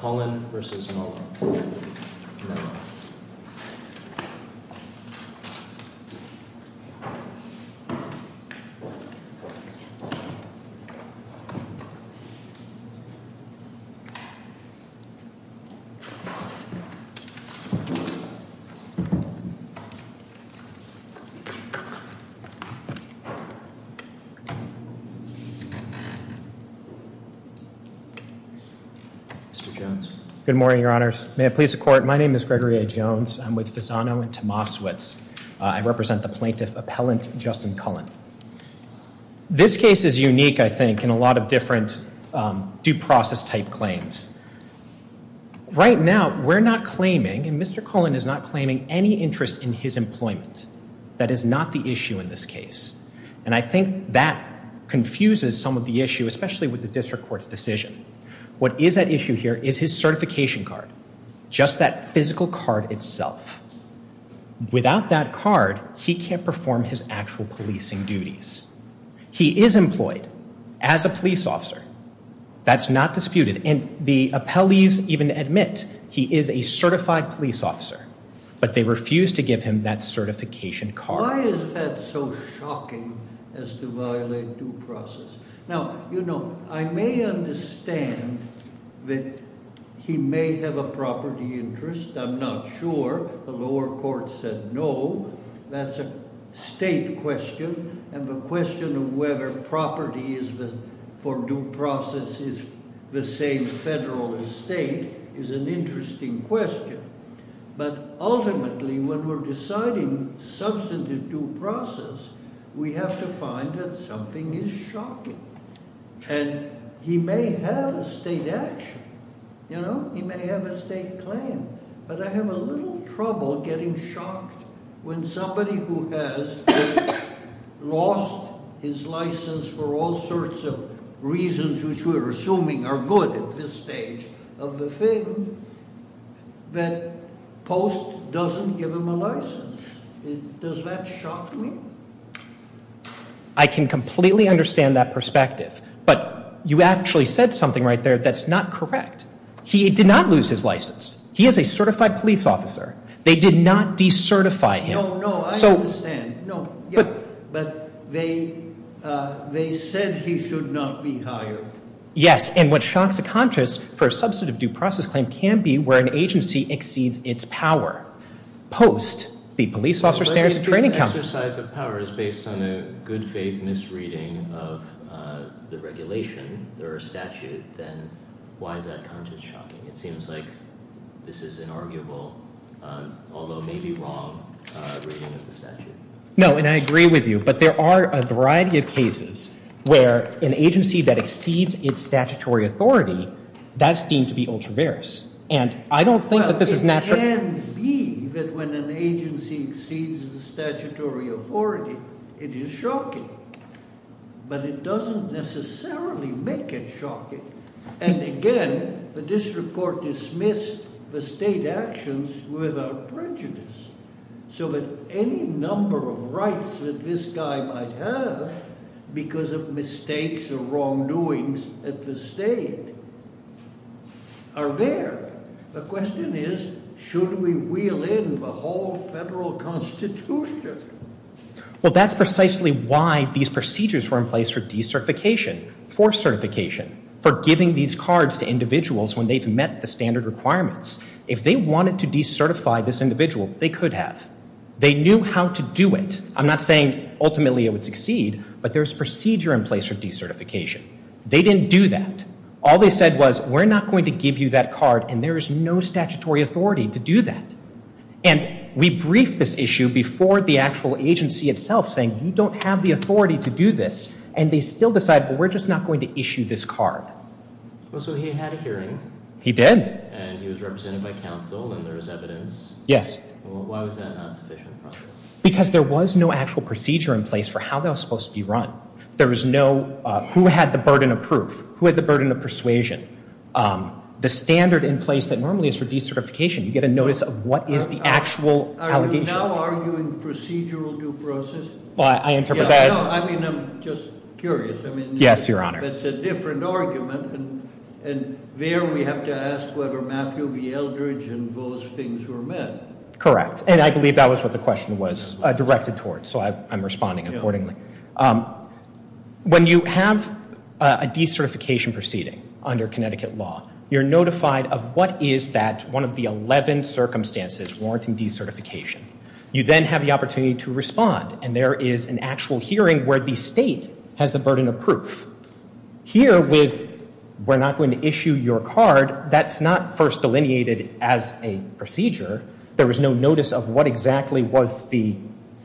Cullen v. Mello Mr. Jones. Good morning, your honors. May it please the court, my name is Gregory A. Jones. I'm with Fasano and Tomasowicz. I represent the plaintiff appellant, Justin Cullen. This case is unique, I think, in a lot of different due process type claims. Right now, we're not claiming, and Mr. Cullen is not claiming, any interest in his employment. That is not the issue in this case, and I think that confuses some of the issue, especially with the district court's decision. What is at issue here is his certification card, just that physical card itself. Without that card, he can't perform his actual policing duties. He is employed as a police officer. That's not disputed, and the appellees even admit he is a certified police officer, but they refuse to give him that certification card. Why is that so shocking as to violate due process? Now, you know, I may understand that he may have a property interest. I'm not sure. The lower court said no. That's a state question, and the question of whether property for due process is the same federal as state is an interesting question. But ultimately, when we're deciding substantive due process, we have to find that something is shocking. And he may have a state action. He may have a state claim. But I have a little trouble getting shocked when somebody who has lost his license for all sorts of reasons, which we're assuming are good at this stage of the thing, that post doesn't give him a license. Does that shock me? I can completely understand that perspective, but you actually said something right there that's not correct. He did not lose his license. He is a certified police officer. They did not decertify him. No, no, I understand. But they said he should not be hired. Yes, and what shocks the conscience for a substantive due process claim can be where an agency exceeds its power. Post, the police officer stands at training council. If this exercise of power is based on a good faith misreading of the regulation or statute, then why is that conscience shocking? It seems like this is an arguable, although maybe wrong, reading of the statute. No, and I agree with you. But there are a variety of cases where an agency that exceeds its statutory authority, that's deemed to be ultra-various. Well, it can be that when an agency exceeds the statutory authority, it is shocking. But it doesn't necessarily make it shocking. And again, the district court dismissed the state actions without prejudice. So that any number of rights that this guy might have because of mistakes or wrongdoings at the state are there. The question is, should we wheel in the whole federal constitution? Well, that's precisely why these procedures were in place for decertification, for certification, for giving these cards to individuals when they've met the standard requirements. If they wanted to decertify this individual, they could have. They knew how to do it. I'm not saying ultimately it would succeed, but there's procedure in place for decertification. They didn't do that. All they said was, we're not going to give you that card, and there is no statutory authority to do that. And we briefed this issue before the actual agency itself, saying, you don't have the authority to do this. And they still decide, well, we're just not going to issue this card. Well, so he had a hearing. He did. And he was represented by counsel, and there was evidence. Yes. Why was that not sufficient? Because there was no actual procedure in place for how that was supposed to be run. There was no who had the burden of proof, who had the burden of persuasion. The standard in place that normally is for decertification, you get a notice of what is the actual allegation. Are you now arguing procedural due process? Well, I interpret that as No, I mean, I'm just curious. Yes, Your Honor. That's a different argument, and there we have to ask whether Matthew V. Eldridge and those things were met. Correct. And I believe that was what the question was directed towards, so I'm responding accordingly. When you have a decertification proceeding under Connecticut law, you're notified of what is that one of the 11 circumstances warranting decertification. You then have the opportunity to respond, and there is an actual hearing where the state has the burden of proof. Here, with we're not going to issue your card, that's not first delineated as a procedure. There was no notice of what exactly was the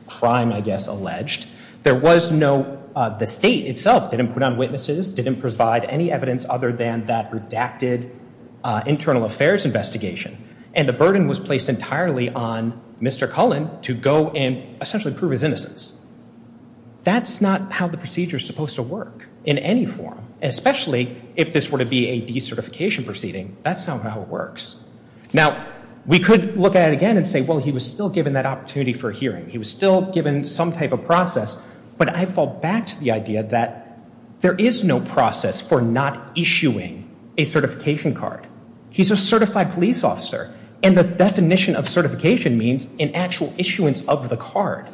crime, I guess, alleged. There was no, the state itself didn't put on witnesses, didn't provide any evidence other than that redacted internal affairs investigation, and the burden was placed entirely on Mr. Cullen to go and essentially prove his innocence. That's not how the procedure is supposed to work in any form, especially if this were to be a decertification proceeding. That's not how it works. Now, we could look at it again and say, well, he was still given that opportunity for hearing. He was still given some type of process. But I fall back to the idea that there is no process for not issuing a certification card. He's a certified police officer, and the definition of certification means an actual issuance of the card.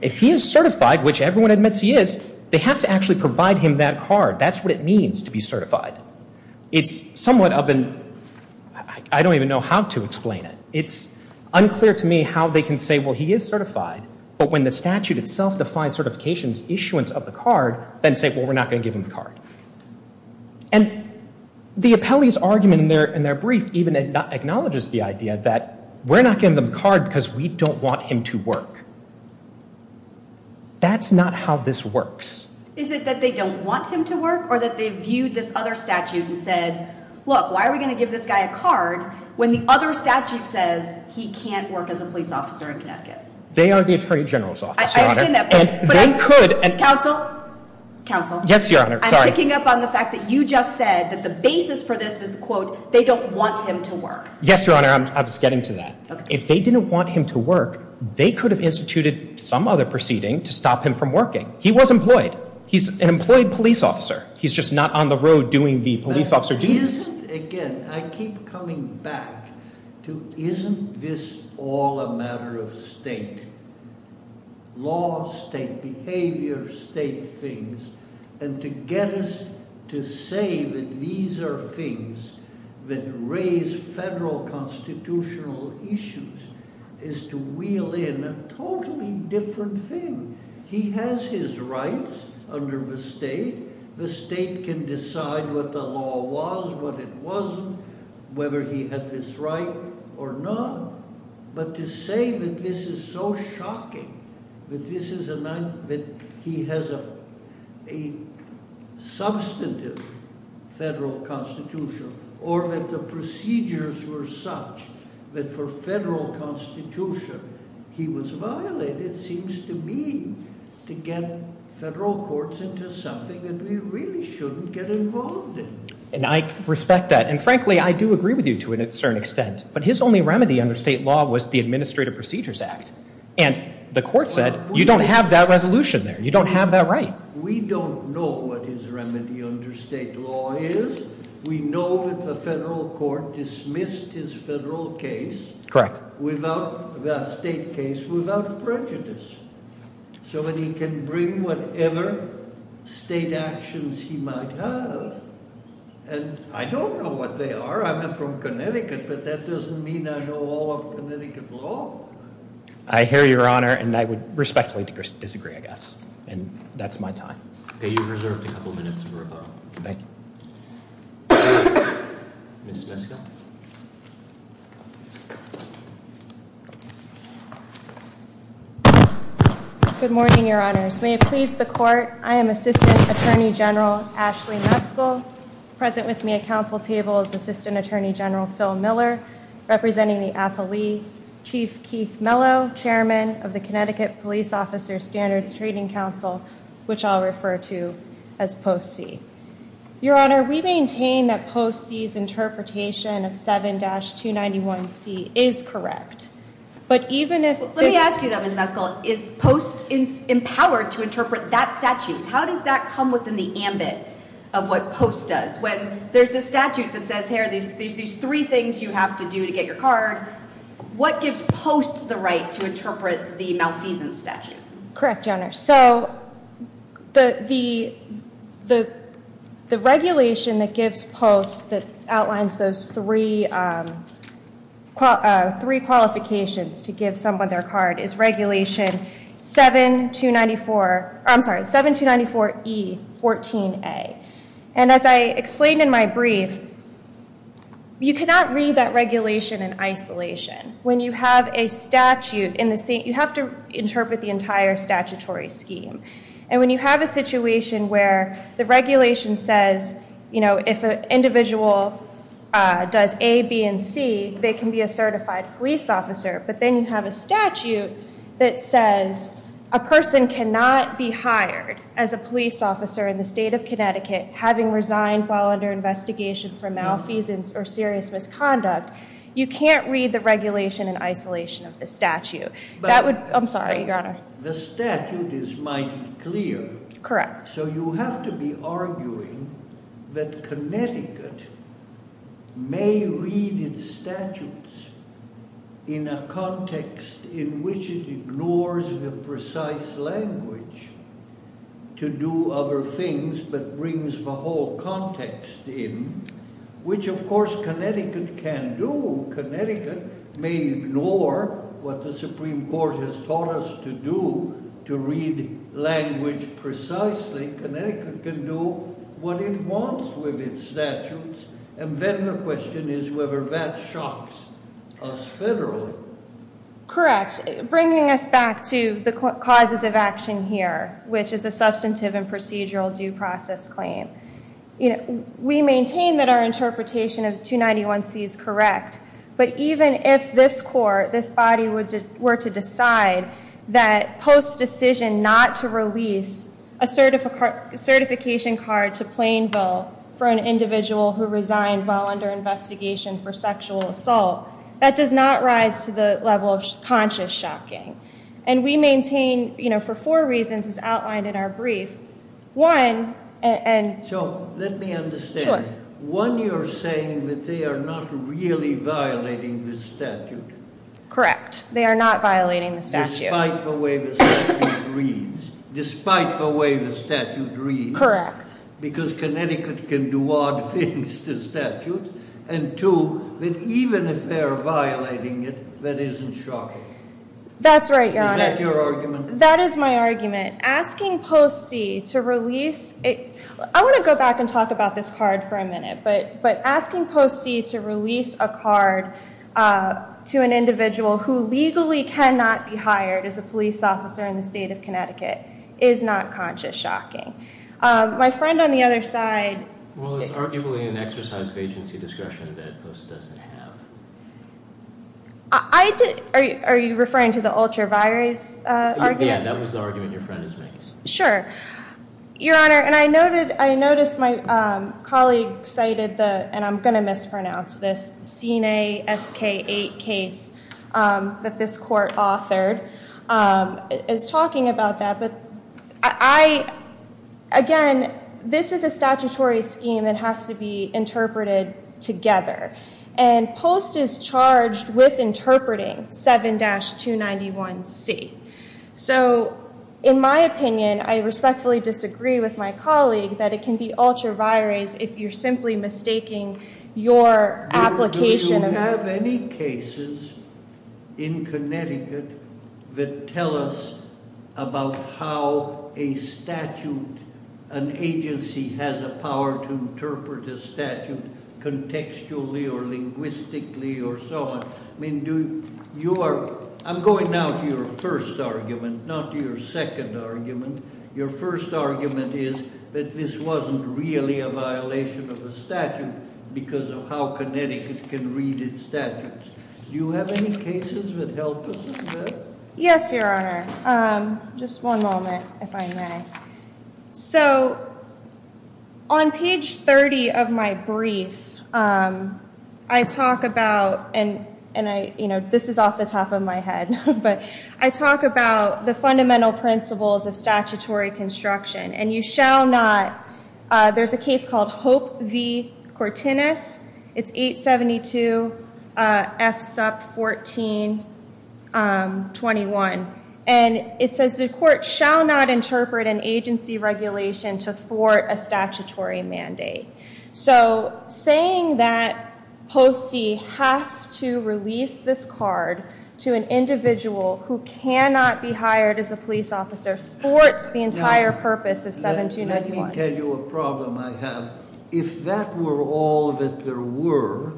If he is certified, which everyone admits he is, they have to actually provide him that card. That's what it means to be certified. It's somewhat of an, I don't even know how to explain it. It's unclear to me how they can say, well, he is certified, but when the statute itself defies certification's issuance of the card, then say, well, we're not going to give him the card. And the appellee's argument in their brief even acknowledges the idea that we're not giving him the card because we don't want him to work. That's not how this works. Is it that they don't want him to work or that they viewed this other statute and said, look, why are we going to give this guy a card when the other statute says he can't work as a police officer in Connecticut? They are the Attorney General's office, Your Honor. I understand that. And they could. Counsel? Counsel? Yes, Your Honor. Sorry. I'm picking up on the fact that you just said that the basis for this was, quote, they don't want him to work. Yes, Your Honor. I was getting to that. If they didn't want him to work, they could have instituted some other proceeding to stop him from working. He was employed. He's an employed police officer. He's just not on the road doing the police officer duties. Again, I keep coming back to isn't this all a matter of state? Law, state behavior, state things. And to get us to say that these are things that raise federal constitutional issues is to wheel in a totally different thing. He has his rights under the state. The state can decide what the law was, what it wasn't, whether he had this right or not. But to say that this is so shocking, that he has a substantive federal constitution or that the procedures were such that for federal constitution he was violated seems to me to get federal courts into something that we really shouldn't get involved in. And I respect that. And frankly, I do agree with you to a certain extent. But his only remedy under state law was the Administrative Procedures Act. And the court said you don't have that resolution there. You don't have that right. We don't know what his remedy under state law is. We know that the federal court dismissed his federal case. Correct. Without the state case, without prejudice. So that he can bring whatever state actions he might have. And I don't know what they are. I'm not from Connecticut. But that doesn't mean I know all of Connecticut law. I hear you, Your Honor. And I would respectfully disagree, I guess. And that's my time. Okay, you're reserved a couple minutes for rebuttal. Thank you. Ms. Meskel. Good morning, Your Honors. May it please the court, I am Assistant Attorney General Ashley Meskel. Present with me at council table is Assistant Attorney General Phil Miller. Representing the appellee, Chief Keith Mello. Chairman of the Connecticut Police Officer Standards Trading Council. Which I'll refer to as POST-C. Your Honor, we maintain that POST-C's interpretation of 7-291C is correct. But even if this. Let me ask you that, Ms. Meskel. Is POST empowered to interpret that statute? How does that come within the ambit of what POST does? When there's a statute that says, here are these three things you have to do to get your card. What gives POST the right to interpret the malfeasance statute? Correct, Your Honor. So, the regulation that gives POST, that outlines those three qualifications to give someone their card. Is regulation 7-294, I'm sorry, 7-294E-14A. And as I explained in my brief, you cannot read that regulation in isolation. When you have a statute, you have to interpret the entire statutory scheme. And when you have a situation where the regulation says, if an individual does A, B, and C. They can be a certified police officer. But then you have a statute that says a person cannot be hired as a police officer in the state of Connecticut. Having resigned while under investigation for malfeasance or serious misconduct. You can't read the regulation in isolation of the statute. That would, I'm sorry, Your Honor. The statute is mighty clear. Correct. So, you have to be arguing that Connecticut may read its statutes in a context in which it ignores the precise language to do other things. But brings the whole context in, which of course Connecticut can do. Connecticut may ignore what the Supreme Court has taught us to do to read language precisely. Connecticut can do what it wants with its statutes. And then the question is whether that shocks us federally. Correct. Bringing us back to the causes of action here, which is a substantive and procedural due process claim. We maintain that our interpretation of 291C is correct. But even if this court, this body, were to decide that post-decision not to release a certification card to plain bill for an individual who resigned while under investigation for sexual assault. That does not rise to the level of conscious shocking. And we maintain for four reasons as outlined in our brief. One, and- So, let me understand. Sure. One, you're saying that they are not really violating the statute. Correct. They are not violating the statute. Despite the way the statute reads. Despite the way the statute reads. Correct. Because Connecticut can do odd things to statutes. And two, that even if they are violating it, that isn't shocking. That's right, Your Honor. Is that your argument? That is my argument. Asking Post C to release a- I want to go back and talk about this card for a minute. But asking Post C to release a card to an individual who legally cannot be hired as a police officer in the state of Connecticut is not conscious shocking. My friend on the other side- Well, it's arguably an exercise of agency discretion that Post doesn't have. Are you referring to the ultra-virus argument? Yeah, that was the argument your friend is making. Sure. Your Honor, and I noticed my colleague cited the- and I'm going to mispronounce this- CNA SK-8 case that this court authored. It's talking about that, but I- again, this is a statutory scheme that has to be interpreted together. And Post is charged with interpreting 7-291C. So, in my opinion, I respectfully disagree with my colleague that it can be ultra-virus if you're simply mistaking your application- There are many cases in Connecticut that tell us about how a statute- an agency has a power to interpret a statute contextually or linguistically or so on. I mean, do- you are- I'm going now to your first argument, not your second argument. Your first argument is that this wasn't really a violation of a statute because of how Connecticut can read its statutes. Do you have any cases that help us with that? Yes, Your Honor. Just one moment, if I may. So, on page 30 of my brief, I talk about- and I- you know, this is off the top of my head- but I talk about the fundamental principles of statutory construction. And you shall not- there's a case called Hope v. Cortinus. It's 872 F. Supp. 1421. And it says the court shall not interpret an agency regulation to thwart a statutory mandate. So, saying that POC has to release this card to an individual who cannot be hired as a police officer thwarts the entire purpose of 7291. Let me tell you a problem I have. If that were all that there were,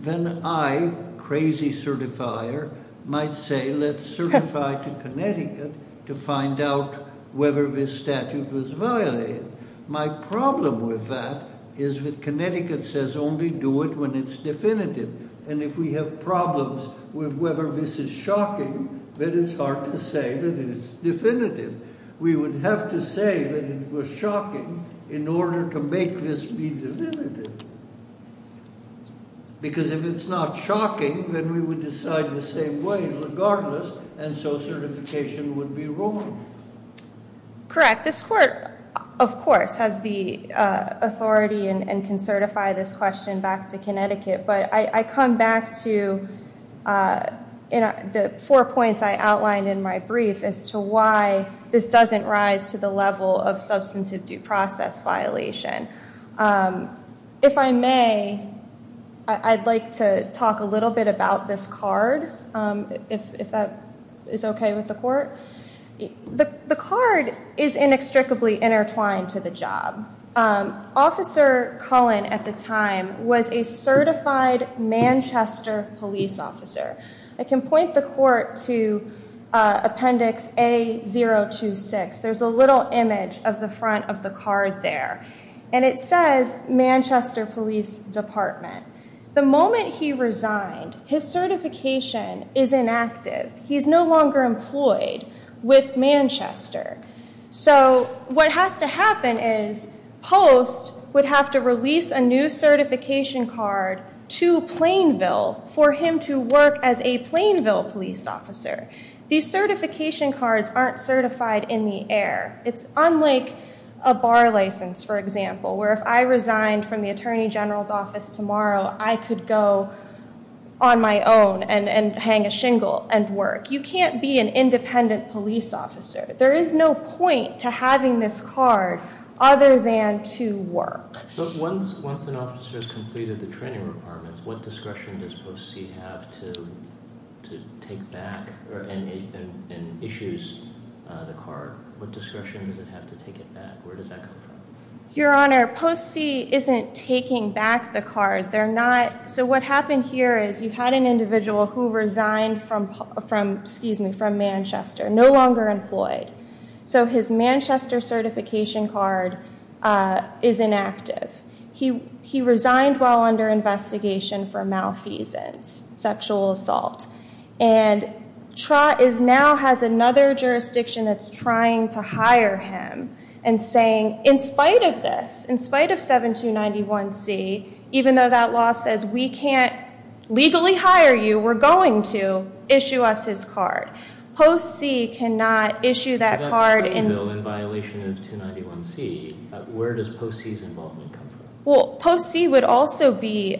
then I, crazy certifier, might say let's certify to Connecticut to find out whether this statute was violated. My problem with that is that Connecticut says only do it when it's definitive. And if we have problems with whether this is shocking, then it's hard to say that it's definitive. We would have to say that it was shocking in order to make this be definitive. Because if it's not shocking, then we would decide the same way regardless, and so certification would be wrong. Correct. This court, of course, has the authority and can certify this question back to Connecticut. But I come back to the four points I outlined in my brief as to why this doesn't rise to the level of substantive due process violation. If I may, I'd like to talk a little bit about this card, if that is OK with the court. The card is inextricably intertwined to the job. Officer Cullen at the time was a certified Manchester police officer. I can point the court to appendix A026. There's a little image of the front of the card there. And it says Manchester Police Department. The moment he resigned, his certification is inactive. He's no longer employed with Manchester. So what has to happen is Post would have to release a new certification card to Plainville for him to work as a Plainville police officer. These certification cards aren't certified in the air. It's unlike a bar license, for example, where if I resigned from the attorney general's office tomorrow, I could go on my own and hang a shingle and work. You can't be an independent police officer. There is no point to having this card other than to work. But once an officer has completed the training requirements, what discretion does Post C have to take back and issues the card? What discretion does it have to take it back? Where does that come from? Your Honor, Post C isn't taking back the card. What happened here is you had an individual who resigned from Manchester, no longer employed. So his Manchester certification card is inactive. He resigned while under investigation for malfeasance, sexual assault. And Trott now has another jurisdiction that's trying to hire him and saying, in spite of this, in spite of 7291C, even though that law says we can't legally hire you, we're going to, issue us his card. Post C cannot issue that card. So that's Plainville in violation of 291C. Where does Post C's involvement come from? Well, Post C would also be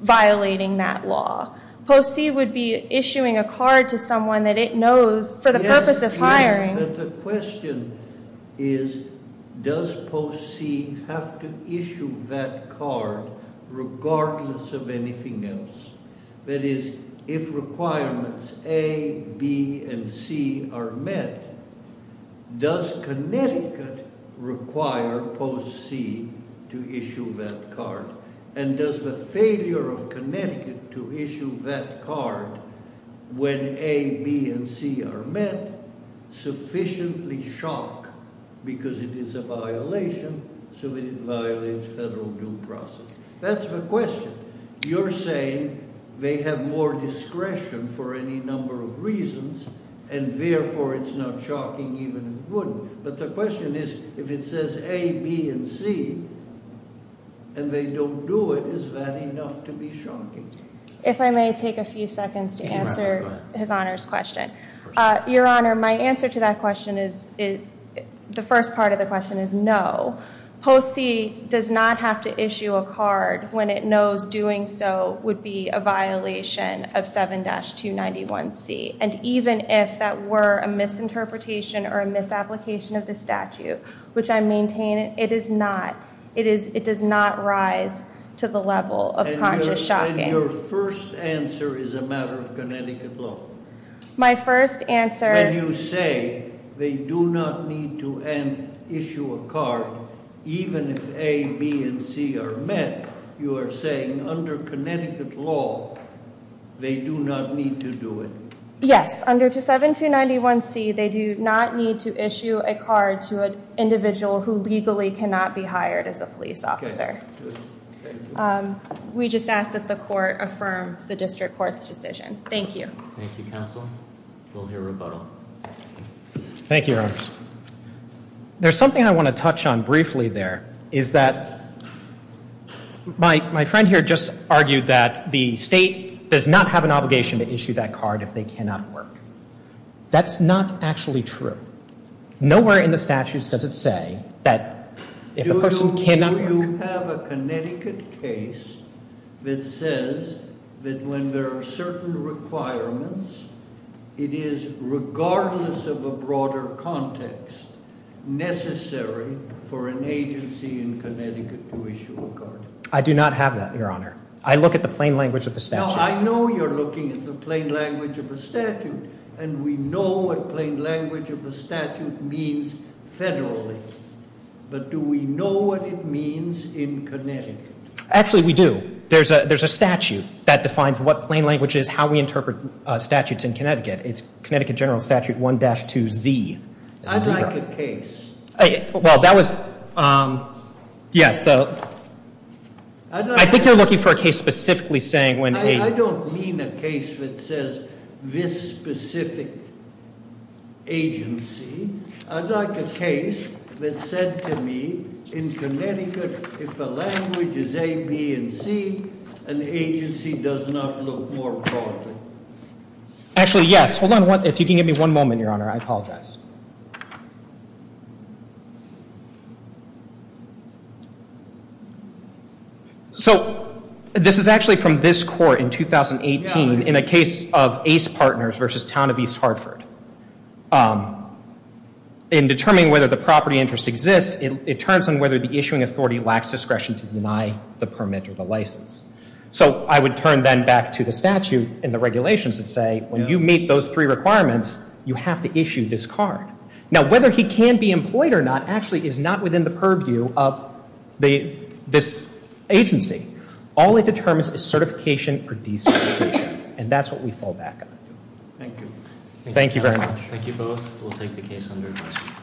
violating that law. Post C would be issuing a card to someone that it knows for the purpose of hiring. The question is, does Post C have to issue that card regardless of anything else? That is, if requirements A, B, and C are met, does Connecticut require Post C to issue that card? And does the failure of Connecticut to issue that card when A, B, and C are met sufficiently shock because it is a violation? So it violates federal due process. That's the question. You're saying they have more discretion for any number of reasons, and therefore it's not shocking even if it wouldn't. But the question is, if it says A, B, and C, and they don't do it, is that enough to be shocking? If I may take a few seconds to answer His Honor's question. Your Honor, my answer to that question is, the first part of the question is no. Post C does not have to issue a card when it knows doing so would be a violation of 7-291C. And even if that were a misinterpretation or a misapplication of the statute, which I maintain, it does not rise to the level of conscious shocking. And your first answer is a matter of Connecticut law? My first answer- When you say they do not need to issue a card even if A, B, and C are met, you are saying under Connecticut law, they do not need to do it? Yes. Under 7-291C, they do not need to issue a card to an individual who legally cannot be hired as a police officer. We just ask that the court affirm the district court's decision. Thank you. Thank you, Counsel. We'll hear rebuttal. Thank you, Your Honor. There's something I want to touch on briefly there. Is that my friend here just argued that the state does not have an obligation to issue that card if they cannot work. That's not actually true. Nowhere in the statutes does it say that if a person cannot work- that when there are certain requirements, it is regardless of a broader context necessary for an agency in Connecticut to issue a card. I do not have that, Your Honor. I look at the plain language of the statute. No, I know you're looking at the plain language of the statute, and we know what plain language of the statute means federally. Actually, we do. There's a statute that defines what plain language is, how we interpret statutes in Connecticut. It's Connecticut General Statute 1-2Z. I'd like a case. Well, that was- yes. I think you're looking for a case specifically saying when a- I don't mean a case that says this specific agency. I'd like a case that said to me, in Connecticut, if a language is A, B, and C, an agency does not look more properly. Actually, yes. Hold on. If you can give me one moment, Your Honor, I apologize. So this is actually from this court in 2018 in a case of Ace Partners versus Town of East Hartford. In determining whether the property interest exists, it turns on whether the issuing authority lacks discretion to deny the permit or the license. So I would turn then back to the statute and the regulations and say, when you meet those three requirements, you have to issue this card. Now, whether he can be employed or not actually is not within the purview of this agency. All it determines is certification or de-certification. And that's what we fall back on. Thank you. Thank you very much. Thank you both. We'll take the case under adjustment.